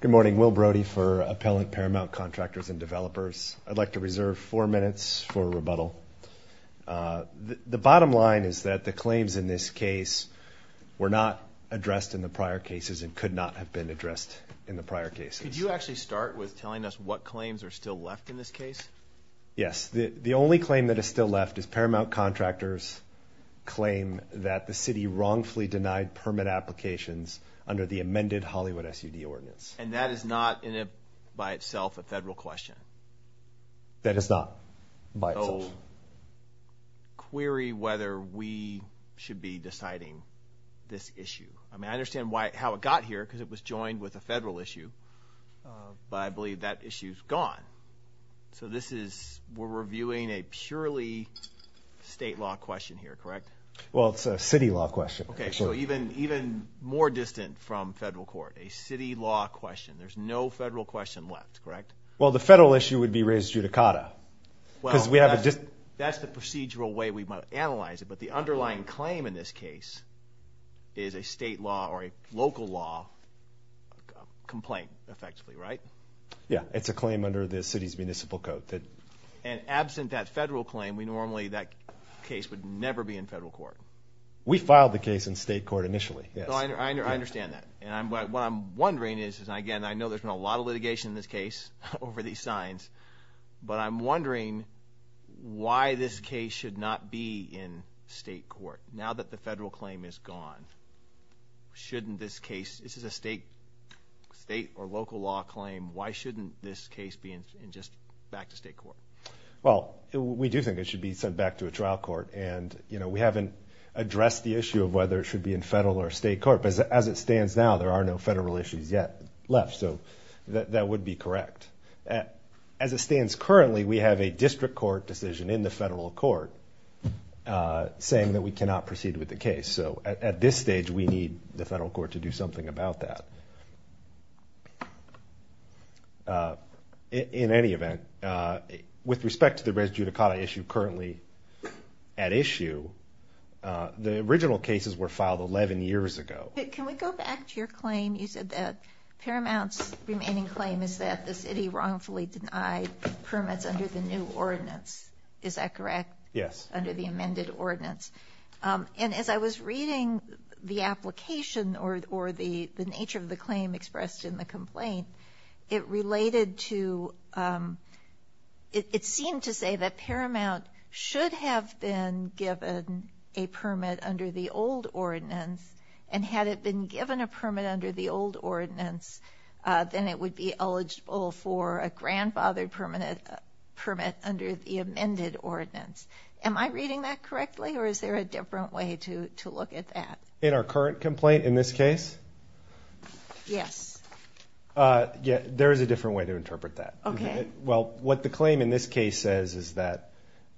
Good morning. Will Brody for Appellant Paramount Contractors and Developers. I'd like to reserve four minutes for rebuttal. The bottom line is that the claims in this case were not addressed in the prior cases and could not have been addressed in the prior cases. Could you actually start with telling us what claims are still left in this case? Yes. The only claim that is still left is Paramount Contractors' claim that the city wrongfully denied permit applications under the amended Hollywood SUD ordinance. And that is not by itself a federal question? That is not by itself. So query whether we should be deciding this issue. I mean I understand how it got here because it was joined with a federal issue, but I believe that issue is gone. So we're reviewing a purely state law question here, correct? Well, it's a city law question. Okay, so even more distant from federal court, a city law question. There's no federal question left, correct? Well, the federal issue would be raised judicata. Well, that's the procedural way we might analyze it, but the underlying claim in this case is a state law or a local law complaint, effectively, right? Yeah, it's a claim under the city's municipal code. And absent that federal claim, normally that case would never be in federal court. We filed the case in state court initially, yes. I understand that, and what I'm wondering is, and again I know there's been a lot of litigation in this case over these signs, but I'm wondering why this case should not be in state court now that the federal claim is gone. Shouldn't this case, this is a state or local law claim, why shouldn't this case be in just back to state court? Well, we do think it should be sent back to a trial court, and we haven't addressed the issue of whether it should be in federal or state court, but as it stands now, there are no federal issues yet left, so that would be correct. As it stands currently, we have a district court decision in the federal court saying that we cannot proceed with the case. And so at this stage, we need the federal court to do something about that. In any event, with respect to the res judicata issue currently at issue, the original cases were filed 11 years ago. Can we go back to your claim? You said that Paramount's remaining claim is that the city wrongfully denied permits under the new ordinance. Is that correct? Yes. Under the amended ordinance. And as I was reading the application or the nature of the claim expressed in the complaint, it related to, it seemed to say that Paramount should have been given a permit under the old ordinance, and had it been given a permit under the old ordinance, then it would be eligible for a grandfathered permit under the amended ordinance. Am I reading that correctly, or is there a different way to look at that? In our current complaint in this case? Yes. There is a different way to interpret that. Okay. Well, what the claim in this case says is that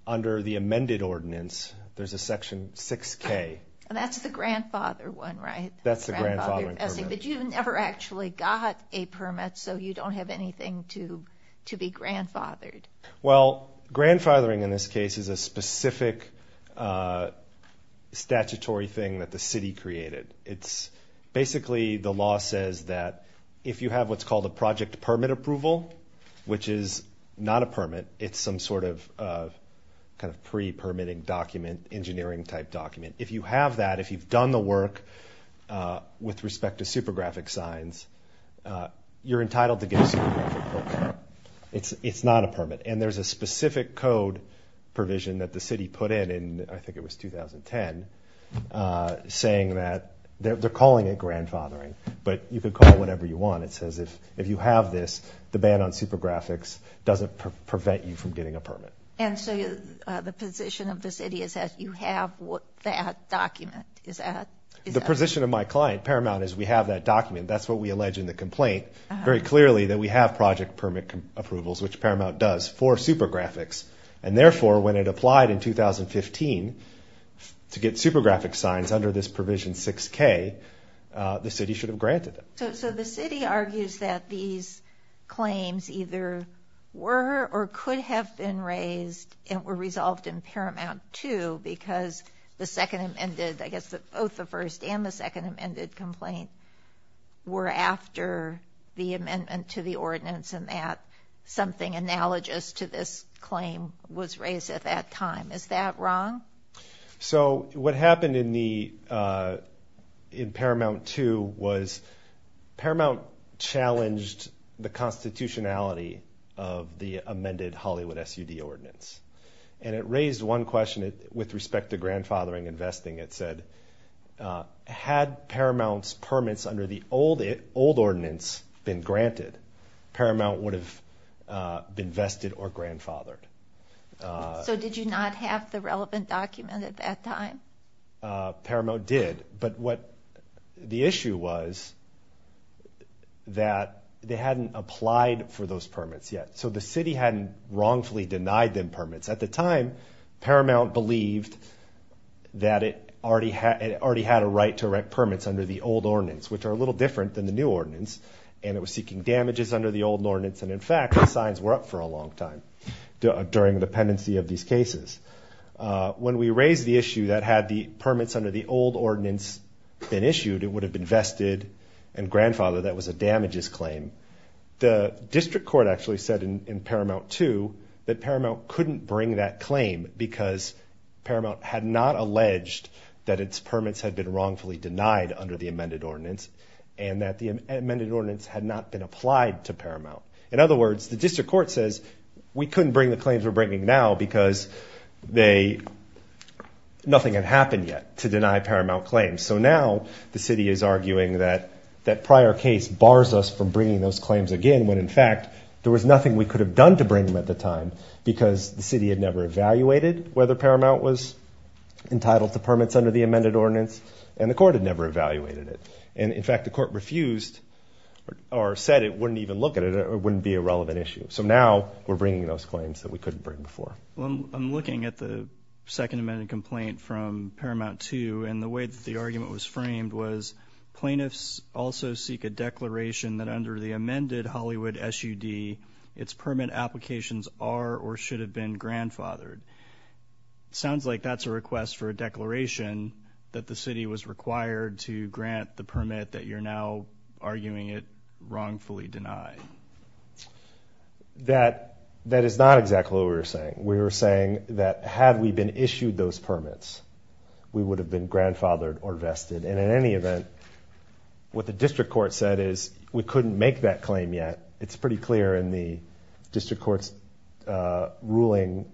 under the amended ordinance, there's a section 6K. And that's the grandfather one, right? That's the grandfathering permit. But you never actually got a permit, so you don't have anything to be grandfathered. Well, grandfathering in this case is a specific statutory thing that the city created. It's basically the law says that if you have what's called a project permit approval, which is not a permit, it's some sort of kind of pre-permitting document, engineering-type document. If you have that, if you've done the work with respect to super graphic signs, you're entitled to get a super graphic approval. It's not a permit. And there's a specific code provision that the city put in, I think it was 2010, saying that they're calling it grandfathering, but you can call it whatever you want. It says if you have this, the ban on super graphics doesn't prevent you from getting a permit. And so the position of the city is that you have that document? The position of my client, Paramount, is we have that document. That's what we allege in the complaint, very clearly that we have project permit approvals, which Paramount does, for super graphics, and therefore when it applied in 2015 to get super graphic signs under this provision 6K, the city should have granted them. So the city argues that these claims either were or could have been raised and were resolved in Paramount 2 because both the first and the second amended complaint were after the amendment to the ordinance and that something analogous to this claim was raised at that time. Is that wrong? So what happened in Paramount 2 was Paramount challenged the constitutionality of the amended Hollywood SUD ordinance. And it raised one question with respect to grandfathering and vesting. It said had Paramount's permits under the old ordinance been granted, Paramount would have been vested or grandfathered. So did you not have the relevant document at that time? Paramount did, but what the issue was that they hadn't applied for those permits yet. So the city hadn't wrongfully denied them permits. At the time, Paramount believed that it already had a right to erect permits under the old ordinance, which are a little different than the new ordinance, and it was seeking damages under the old ordinance. And, in fact, the signs were up for a long time during the pendency of these cases. When we raised the issue that had the permits under the old ordinance been issued, it would have been vested and grandfathered, that was a damages claim. The district court actually said in Paramount 2 that Paramount couldn't bring that claim because Paramount had not alleged that its permits had been wrongfully denied under the amended ordinance and that the amended ordinance had not been applied to Paramount. In other words, the district court says we couldn't bring the claims we're bringing now because nothing had happened yet to deny Paramount claims. So now the city is arguing that that prior case bars us from bringing those claims again when, in fact, there was nothing we could have done to bring them at the time because the city had never evaluated whether Paramount was entitled to permits under the amended ordinance and the court had never evaluated it. And, in fact, the court refused or said it wouldn't even look at it or it wouldn't be a relevant issue. So now we're bringing those claims that we couldn't bring before. I'm looking at the second amended complaint from Paramount 2, and the way that the argument was framed was plaintiffs also seek a declaration that under the amended Hollywood SUD, its permit applications are or should have been grandfathered. It sounds like that's a request for a declaration that the city was required to grant the permit that you're now arguing it wrongfully denied. That is not exactly what we were saying. We were saying that had we been issued those permits, we would have been grandfathered or vested. And in any event, what the district court said is we couldn't make that claim yet. It's pretty clear in the district court's ruling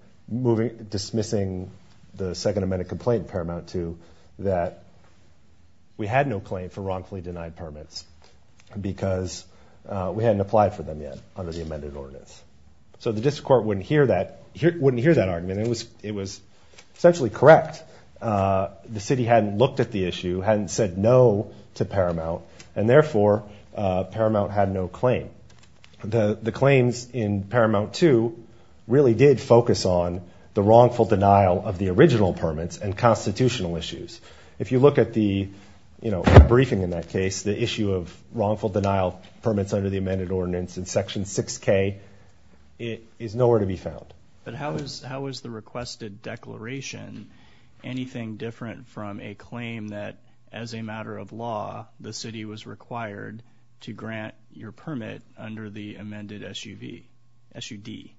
dismissing the second amended complaint in Paramount 2 that we had no claim for wrongfully denied permits because we hadn't applied for them yet under the amended ordinance. So the district court wouldn't hear that argument. It was essentially correct. The city hadn't looked at the issue, hadn't said no to Paramount, and therefore Paramount had no claim. The claims in Paramount 2 really did focus on the wrongful denial of the original permits and constitutional issues. If you look at the briefing in that case, the issue of wrongful denial permits under the amended ordinance in Section 6K, it is nowhere to be found. But how is the requested declaration anything different from a claim that as a matter of law, the city was required to grant your permit under the amended SUV, SUD?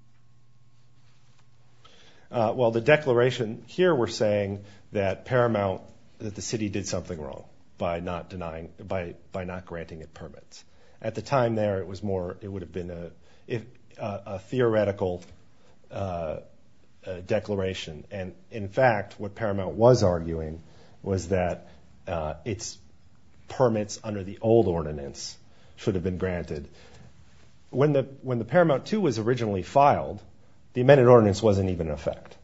Well, the declaration here we're saying that Paramount, that the city did something wrong by not denying, by not granting it permits. At the time there, it was more, it would have been a theoretical declaration. And in fact, what Paramount was arguing was that its permits under the old ordinance should have been granted. When the Paramount 2 was originally filed, the amended ordinance wasn't even in effect.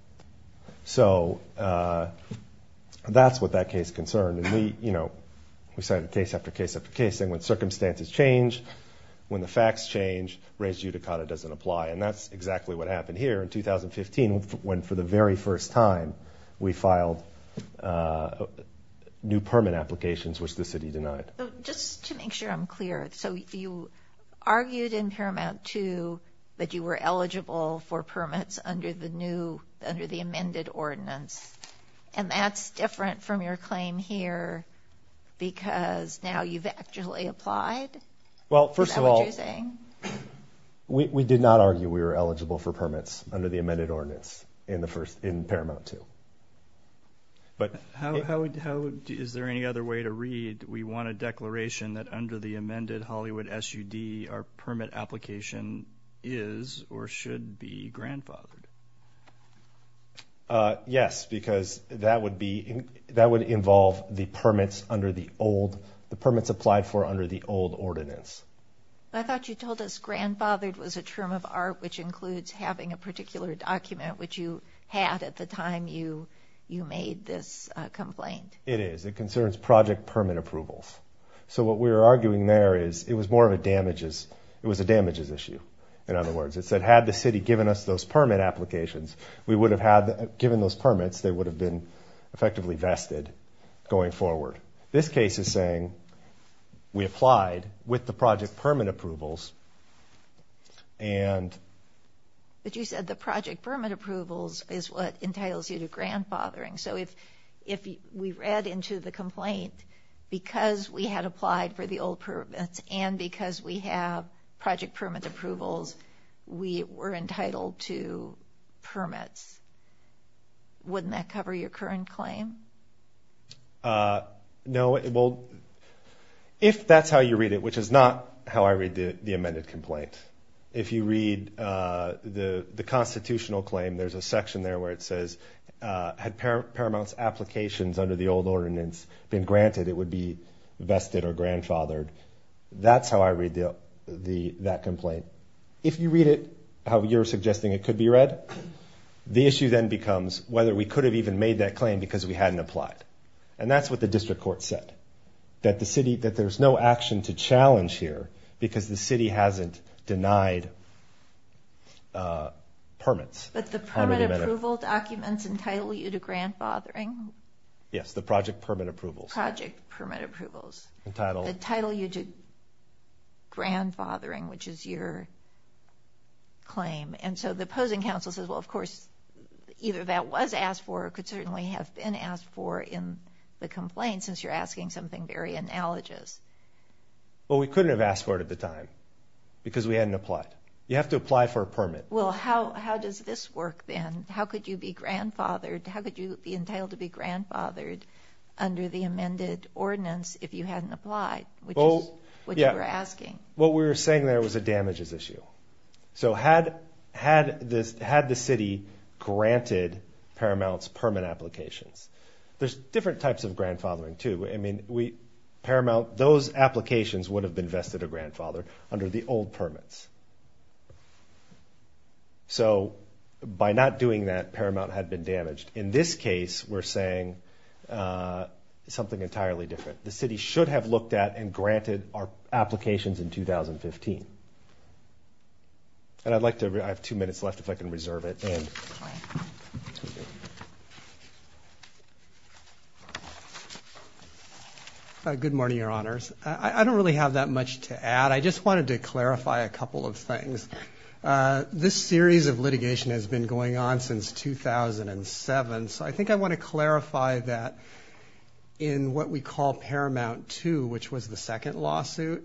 So that's what that case concerned. We cited case after case after case, and when circumstances change, when the facts change, res judicata doesn't apply. And that's exactly what happened here in 2015 when for the very first time we filed new permit applications which the city denied. So just to make sure I'm clear, so you argued in Paramount 2 that you were eligible for permits under the amended ordinance, and that's different from your claim here because now you've actually applied? Well, first of all, we did not argue we were eligible for permits under the amended ordinance in Paramount 2. Is there any other way to read, we want a declaration that under the amended Hollywood SUD our permit application is or should be grandfathered? Yes, because that would involve the permits under the old, the permits applied for under the old ordinance. I thought you told us grandfathered was a term of art which includes having a particular document which you had at the time you made this complaint. It is. It concerns project permit approvals. So what we were arguing there is it was more of a damages, it was a damages issue, in other words. It said had the city given us those permit applications, we would have had, given those permits, they would have been effectively vested going forward. This case is saying we applied with the project permit approvals and... But you said the project permit approvals is what entitles you to grandfathering. So if we read into the complaint, because we had applied for the old permits and because we have project permit approvals, we were entitled to permits. Wouldn't that cover your current claim? No. Well, if that's how you read it, which is not how I read the amended complaint, if you read the constitutional claim, there's a section there where it says had Paramount's applications under the old ordinance been granted, it would be vested or grandfathered. That's how I read that complaint. If you read it how you're suggesting it could be read, the issue then becomes whether we could have even made that claim because we hadn't applied. And that's what the district court said, that there's no action to challenge here because the city hasn't denied permits. But the permit approval documents entitle you to grandfathering? Yes, the project permit approvals. Project permit approvals. Entitle you to grandfathering, which is your claim. And so the opposing counsel says, well, of course, either that was asked for or could certainly have been asked for in the complaint since you're asking something very analogous. Well, we couldn't have asked for it at the time because we hadn't applied. You have to apply for a permit. Well, how does this work then? How could you be grandfathered? How could you be entitled to be grandfathered under the amended ordinance if you hadn't applied, which you were asking? What we were saying there was a damages issue. So had the city granted Paramount's permit applications? There's different types of grandfathering too. I mean, Paramount, those applications would have been vested a grandfather under the old permits. So by not doing that, Paramount had been damaged. In this case, we're saying something entirely different. The city should have looked at and granted our applications in 2015. And I'd like to – I have two minutes left if I can reserve it. Good morning, Your Honors. I don't really have that much to add. I just wanted to clarify a couple of things. This series of litigation has been going on since 2007, so I think I want to clarify that in what we call Paramount II, which was the second lawsuit.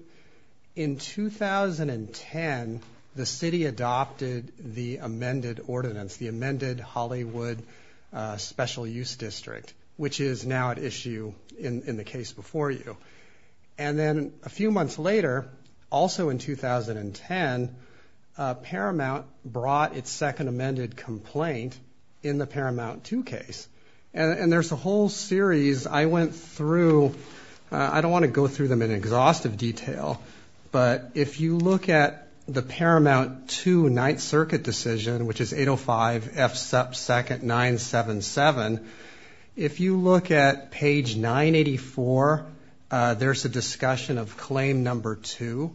In 2010, the city adopted the amended ordinance, the amended Hollywood Special Use District, which is now at issue in the case before you. And then a few months later, also in 2010, Paramount brought its second amended complaint in the Paramount II case. And there's a whole series I went through. I don't want to go through them in exhaustive detail, but if you look at the Paramount II Ninth Circuit decision, which is 805F2-977, if you look at page 984, there's a discussion of Claim No. 2,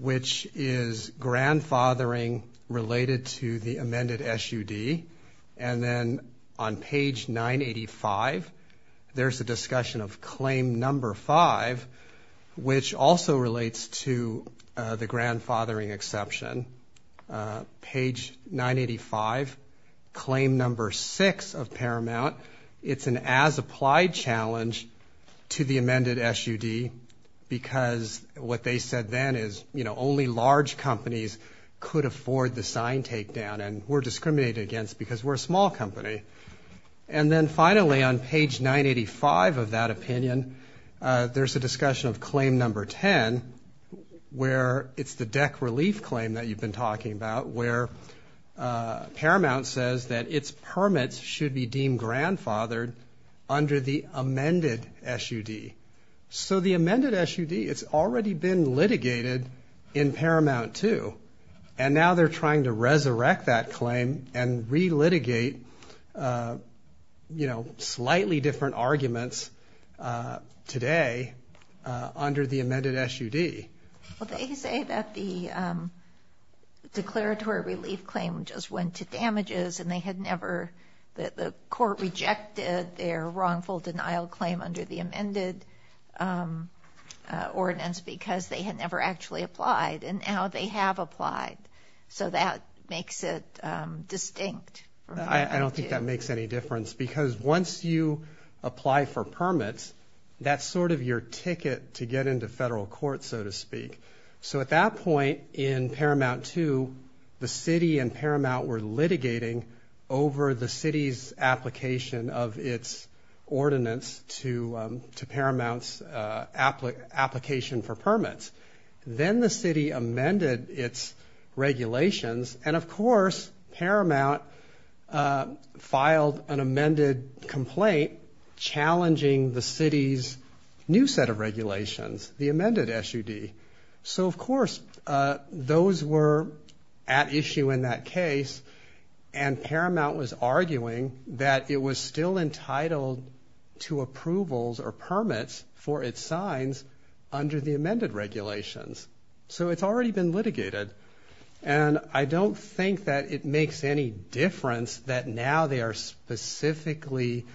which is grandfathering related to the amended SUD. And then on page 985, there's a discussion of Claim No. 5, which also relates to the grandfathering exception. Page 985, Claim No. 6 of Paramount, it's an as-applied challenge to the amended SUD because what they said then is, you know, only large companies could afford the sign takedown, and we're discriminated against because we're a small company. And then finally on page 985 of that opinion, there's a discussion of Claim No. 10, where it's the deck relief claim that you've been talking about, where Paramount says that its permits should be deemed grandfathered under the amended SUD. So the amended SUD, it's already been litigated in Paramount II, and now they're trying to resurrect that claim and relitigate, you know, slightly different arguments today under the amended SUD. Well, they say that the declaratory relief claim just went to damages and they had never the court rejected their wrongful denial claim under the amended ordinance because they had never actually applied, and now they have applied. So that makes it distinct. I don't think that makes any difference because once you apply for permits, that's sort of your ticket to get into federal court, so to speak. So at that point in Paramount II, the city and Paramount were litigating over the city's application of its ordinance to Paramount's application for permits. Then the city amended its regulations, and of course Paramount filed an amended complaint challenging the city's new set of regulations, the amended SUD. So, of course, those were at issue in that case, and Paramount was arguing that it was still entitled to approvals or permits for its signs under the amended regulations. So it's already been litigated, and I don't think that it makes any difference that now they are specifically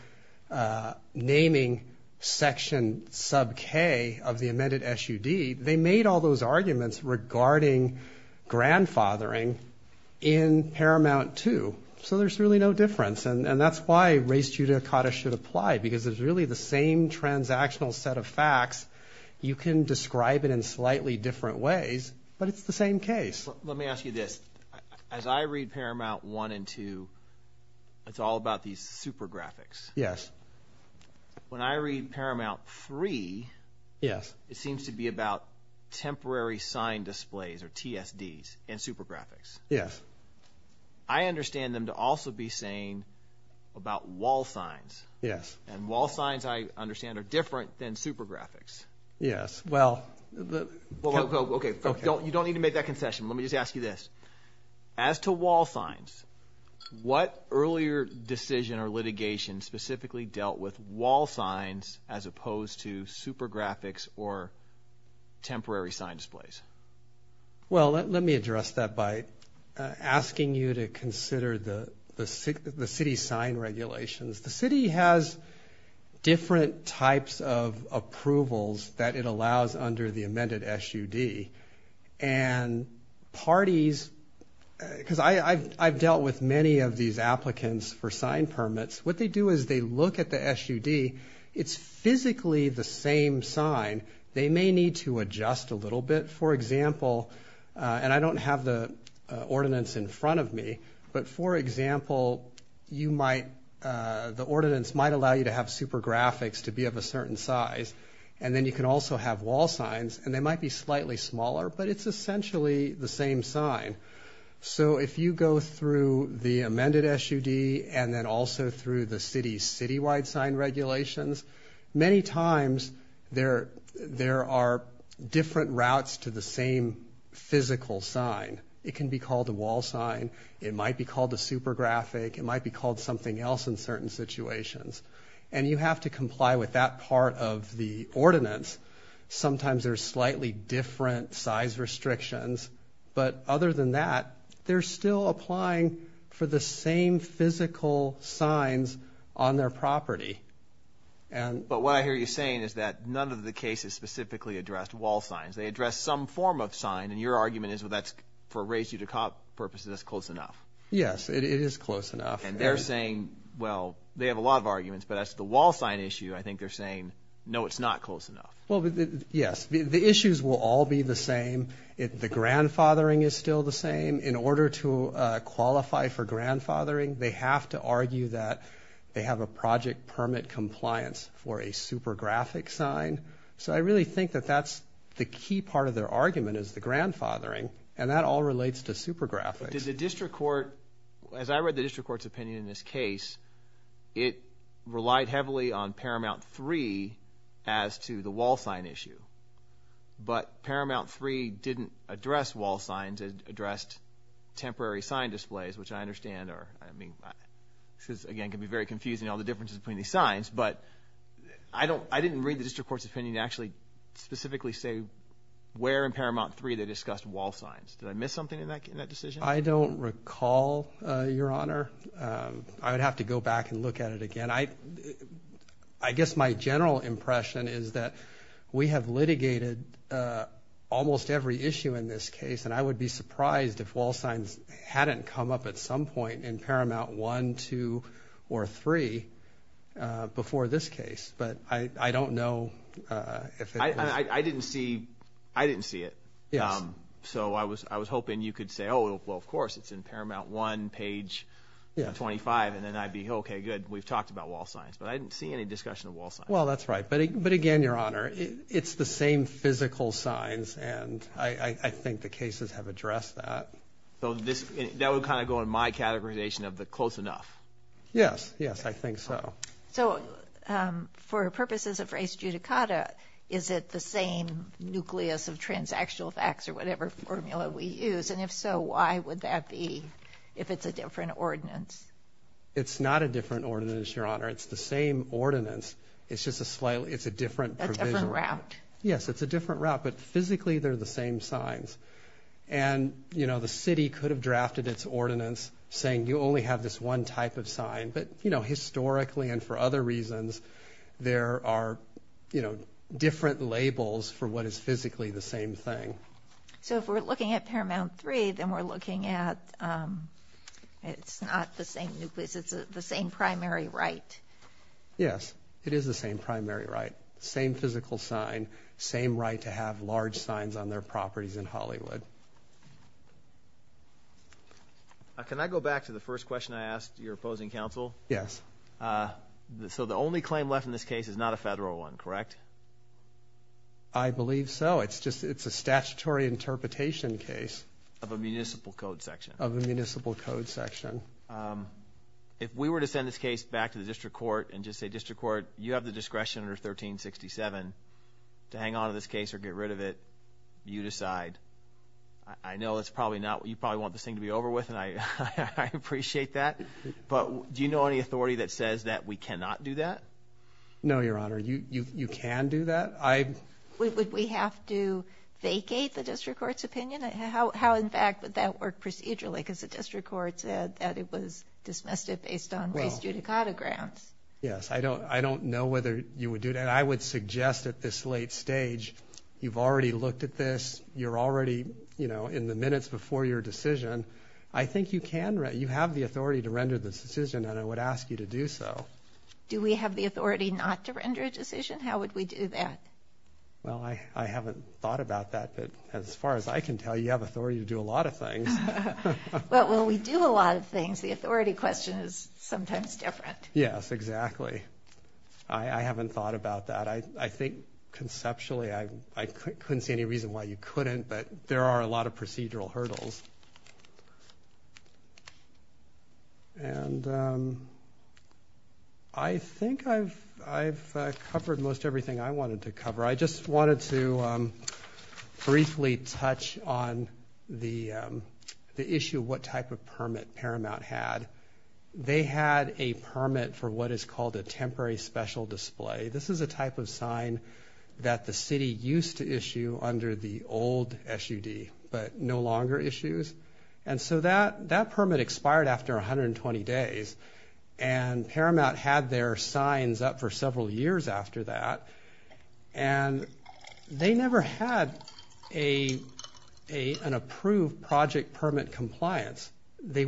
naming Section sub K of the amended SUD. They made all those arguments regarding grandfathering in Paramount II, so there's really no difference, and that's why res judicata should apply because it's really the same transactional set of facts. You can describe it in slightly different ways, but it's the same case. Let me ask you this. As I read Paramount I and II, it's all about these super graphics. Yes. When I read Paramount III, it seems to be about temporary sign displays or TSDs and super graphics. Yes. I understand them to also be saying about wall signs, and wall signs, I understand, are different than super graphics. Yes. Okay, you don't need to make that concession. Let me just ask you this. As to wall signs, what earlier decision or litigation specifically dealt with wall signs as opposed to super graphics or temporary sign displays? Well, let me address that by asking you to consider the city sign regulations. The city has different types of approvals that it allows under the amended SUD, and parties, because I've dealt with many of these applicants for sign permits, what they do is they look at the SUD. It's physically the same sign. They may need to adjust a little bit. For example, and I don't have the ordinance in front of me, but for example, the ordinance might allow you to have super graphics to be of a certain size, and then you can also have wall signs, and they might be slightly smaller, but it's essentially the same sign. So if you go through the amended SUD and then also through the city's citywide sign regulations, many times there are different routes to the same physical sign. It can be called a wall sign. It might be called a super graphic. It might be called something else in certain situations, and you have to comply with that part of the ordinance. Sometimes there are slightly different size restrictions, but other than that, they're still applying for the same physical signs on their property. But what I hear you saying is that none of the cases specifically addressed wall signs. They addressed some form of sign, and your argument is that for a ratio to cop purposes, that's close enough. Yes, it is close enough. And they're saying, well, they have a lot of arguments, but as to the wall sign issue, I think they're saying, no, it's not close enough. Well, yes, the issues will all be the same. The grandfathering is still the same. In order to qualify for grandfathering, they have to argue that they have a project permit compliance for a super graphic sign. So I really think that that's the key part of their argument is the grandfathering, and that all relates to super graphics. Did the district court, as I read the district court's opinion in this case, it relied heavily on Paramount 3 as to the wall sign issue. But Paramount 3 didn't address wall signs. It addressed temporary sign displays, which I understand are, I mean, this, again, can be very confusing, all the differences between these signs. But I didn't read the district court's opinion to actually specifically say where in Paramount 3 they discussed wall signs. Did I miss something in that decision? I don't recall, Your Honor. I would have to go back and look at it again. I guess my general impression is that we have litigated almost every issue in this case, and I would be surprised if wall signs hadn't come up at some point in Paramount 1, 2, or 3 before this case, but I don't know if it was. I didn't see it. So I was hoping you could say, oh, well, of course, it's in Paramount 1, page 25, and then I'd be, okay, good, we've talked about wall signs. But I didn't see any discussion of wall signs. Well, that's right. But, again, Your Honor, it's the same physical signs, and I think the cases have addressed that. So that would kind of go in my categorization of the close enough. Yes, yes, I think so. So for purposes of res judicata, is it the same nucleus of transactional facts or whatever formula we use? And if so, why would that be if it's a different ordinance? It's not a different ordinance, Your Honor. It's the same ordinance. It's just a different provision. A different route. Yes, it's a different route, but physically they're the same signs. But, you know, historically and for other reasons, there are, you know, different labels for what is physically the same thing. So if we're looking at Paramount 3, then we're looking at it's not the same nucleus. It's the same primary right. Yes, it is the same primary right. Same physical sign. Same right to have large signs on their properties in Hollywood. Thank you. Can I go back to the first question I asked your opposing counsel? Yes. So the only claim left in this case is not a federal one, correct? I believe so. It's a statutory interpretation case. Of a municipal code section. Of a municipal code section. If we were to send this case back to the district court and just say, District Court, you have the discretion under 1367 to hang on to this case or get rid of it, you decide. I know that's probably not what you probably want this thing to be over with, and I appreciate that. But do you know any authority that says that we cannot do that? No, Your Honor. You can do that. Would we have to vacate the district court's opinion? How, in fact, would that work procedurally? Because the district court said that it was dismissed it based on race judicata grounds. Yes, I don't know whether you would do that. But I would suggest at this late stage, you've already looked at this, you're already in the minutes before your decision. I think you have the authority to render this decision, and I would ask you to do so. Do we have the authority not to render a decision? How would we do that? Well, I haven't thought about that. But as far as I can tell, you have authority to do a lot of things. Well, we do a lot of things. The authority question is sometimes different. Yes, exactly. I haven't thought about that. I think conceptually I couldn't see any reason why you couldn't, but there are a lot of procedural hurdles. And I think I've covered most everything I wanted to cover. I just wanted to briefly touch on the issue of what type of permit Paramount had. They had a permit for what is called a temporary special display. This is a type of sign that the city used to issue under the old SUD, but no longer issues. And so that permit expired after 120 days, and Paramount had their signs up for several years after that. And they never had an approved project permit compliance. They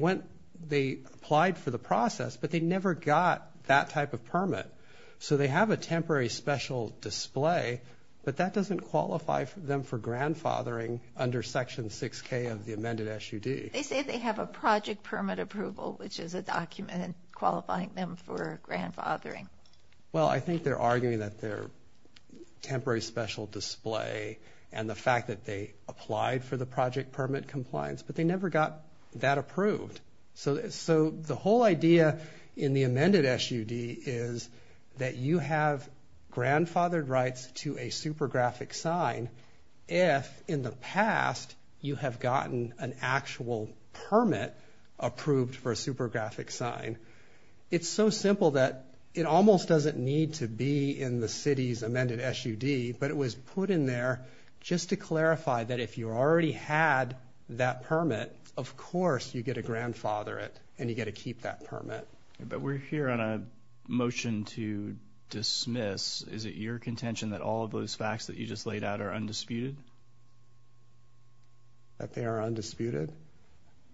applied for the process, but they never got that type of permit. So they have a temporary special display, but that doesn't qualify them for grandfathering under Section 6K of the amended SUD. They say they have a project permit approval, which is a document qualifying them for grandfathering. Well, I think they're arguing that their temporary special display and the fact that they applied for the project permit compliance, but they never got that approved. So the whole idea in the amended SUD is that you have grandfathered rights to a supergraphic sign if in the past you have gotten an actual permit approved for a supergraphic sign. It's so simple that it almost doesn't need to be in the city's amended SUD, but it was put in there just to clarify that if you already had that permit, of course you get to grandfather it and you get to keep that permit. But we're here on a motion to dismiss. Is it your contention that all of those facts that you just laid out are undisputed? That they are undisputed?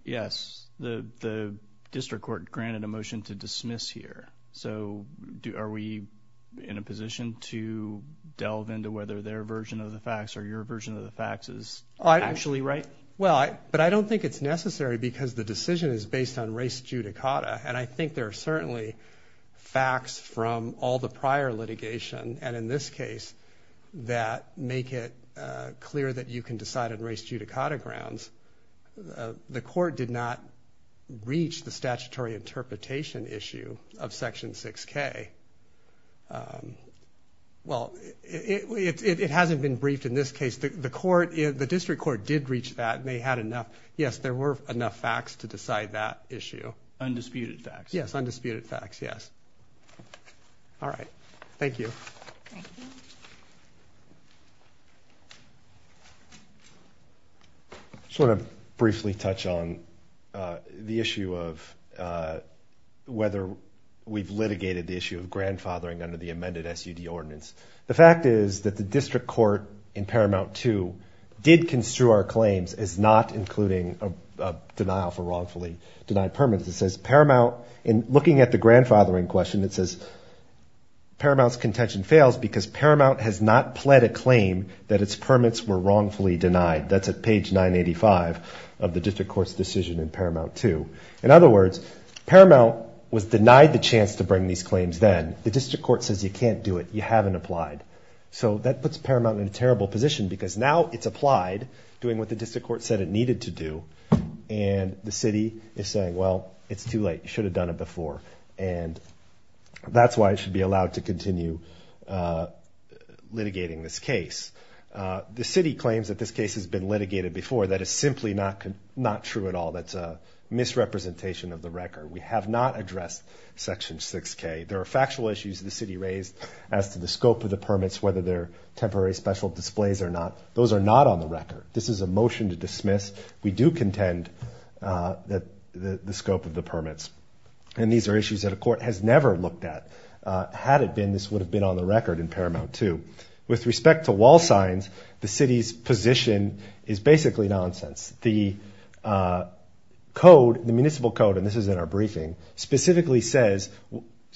Yes. The district court granted a motion to dismiss here. So are we in a position to delve into whether their version of the facts or your version of the facts is actually right? Well, but I don't think it's necessary because the decision is based on race judicata, and I think there are certainly facts from all the prior litigation, and in this case that make it clear that you can decide on race judicata grounds. The court did not reach the statutory interpretation issue of Section 6K. Well, it hasn't been briefed in this case. The district court did reach that, and they had enough. Yes, there were enough facts to decide that issue. Undisputed facts. Yes, undisputed facts, yes. All right. Thank you. Thank you. Thank you. I just want to briefly touch on the issue of whether we've litigated the issue of grandfathering under the amended SUD ordinance. The fact is that the district court in Paramount 2 did construe our claims as not including a denial for wrongfully denied permits. It says Paramount, in looking at the grandfathering question, it says, Paramount's contention fails because Paramount has not pled a claim that its permits were wrongfully denied. That's at page 985 of the district court's decision in Paramount 2. In other words, Paramount was denied the chance to bring these claims then. The district court says you can't do it. You haven't applied. So that puts Paramount in a terrible position because now it's applied, doing what the district court said it needed to do, and the city is saying, well, it's too late. You should have done it before. And that's why it should be allowed to continue litigating this case. The city claims that this case has been litigated before. That is simply not true at all. That's a misrepresentation of the record. We have not addressed Section 6K. There are factual issues the city raised as to the scope of the permits, whether they're temporary special displays or not. Those are not on the record. We do contend that the scope of the permits. And these are issues that a court has never looked at. Had it been, this would have been on the record in Paramount 2. With respect to wall signs, the city's position is basically nonsense. The code, the municipal code, and this is in our briefing, specifically says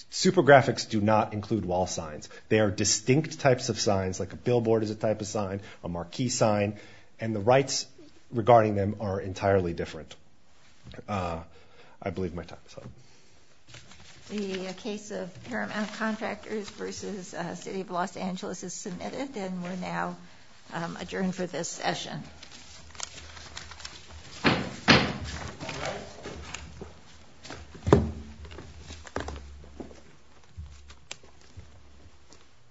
super graphics do not include wall signs. They are distinct types of signs, like a billboard is a type of sign, a marquee sign, and the rights regarding them are entirely different. I believe my time is up. The case of Paramount Contractors v. City of Los Angeles is submitted, and we're now adjourned for this session.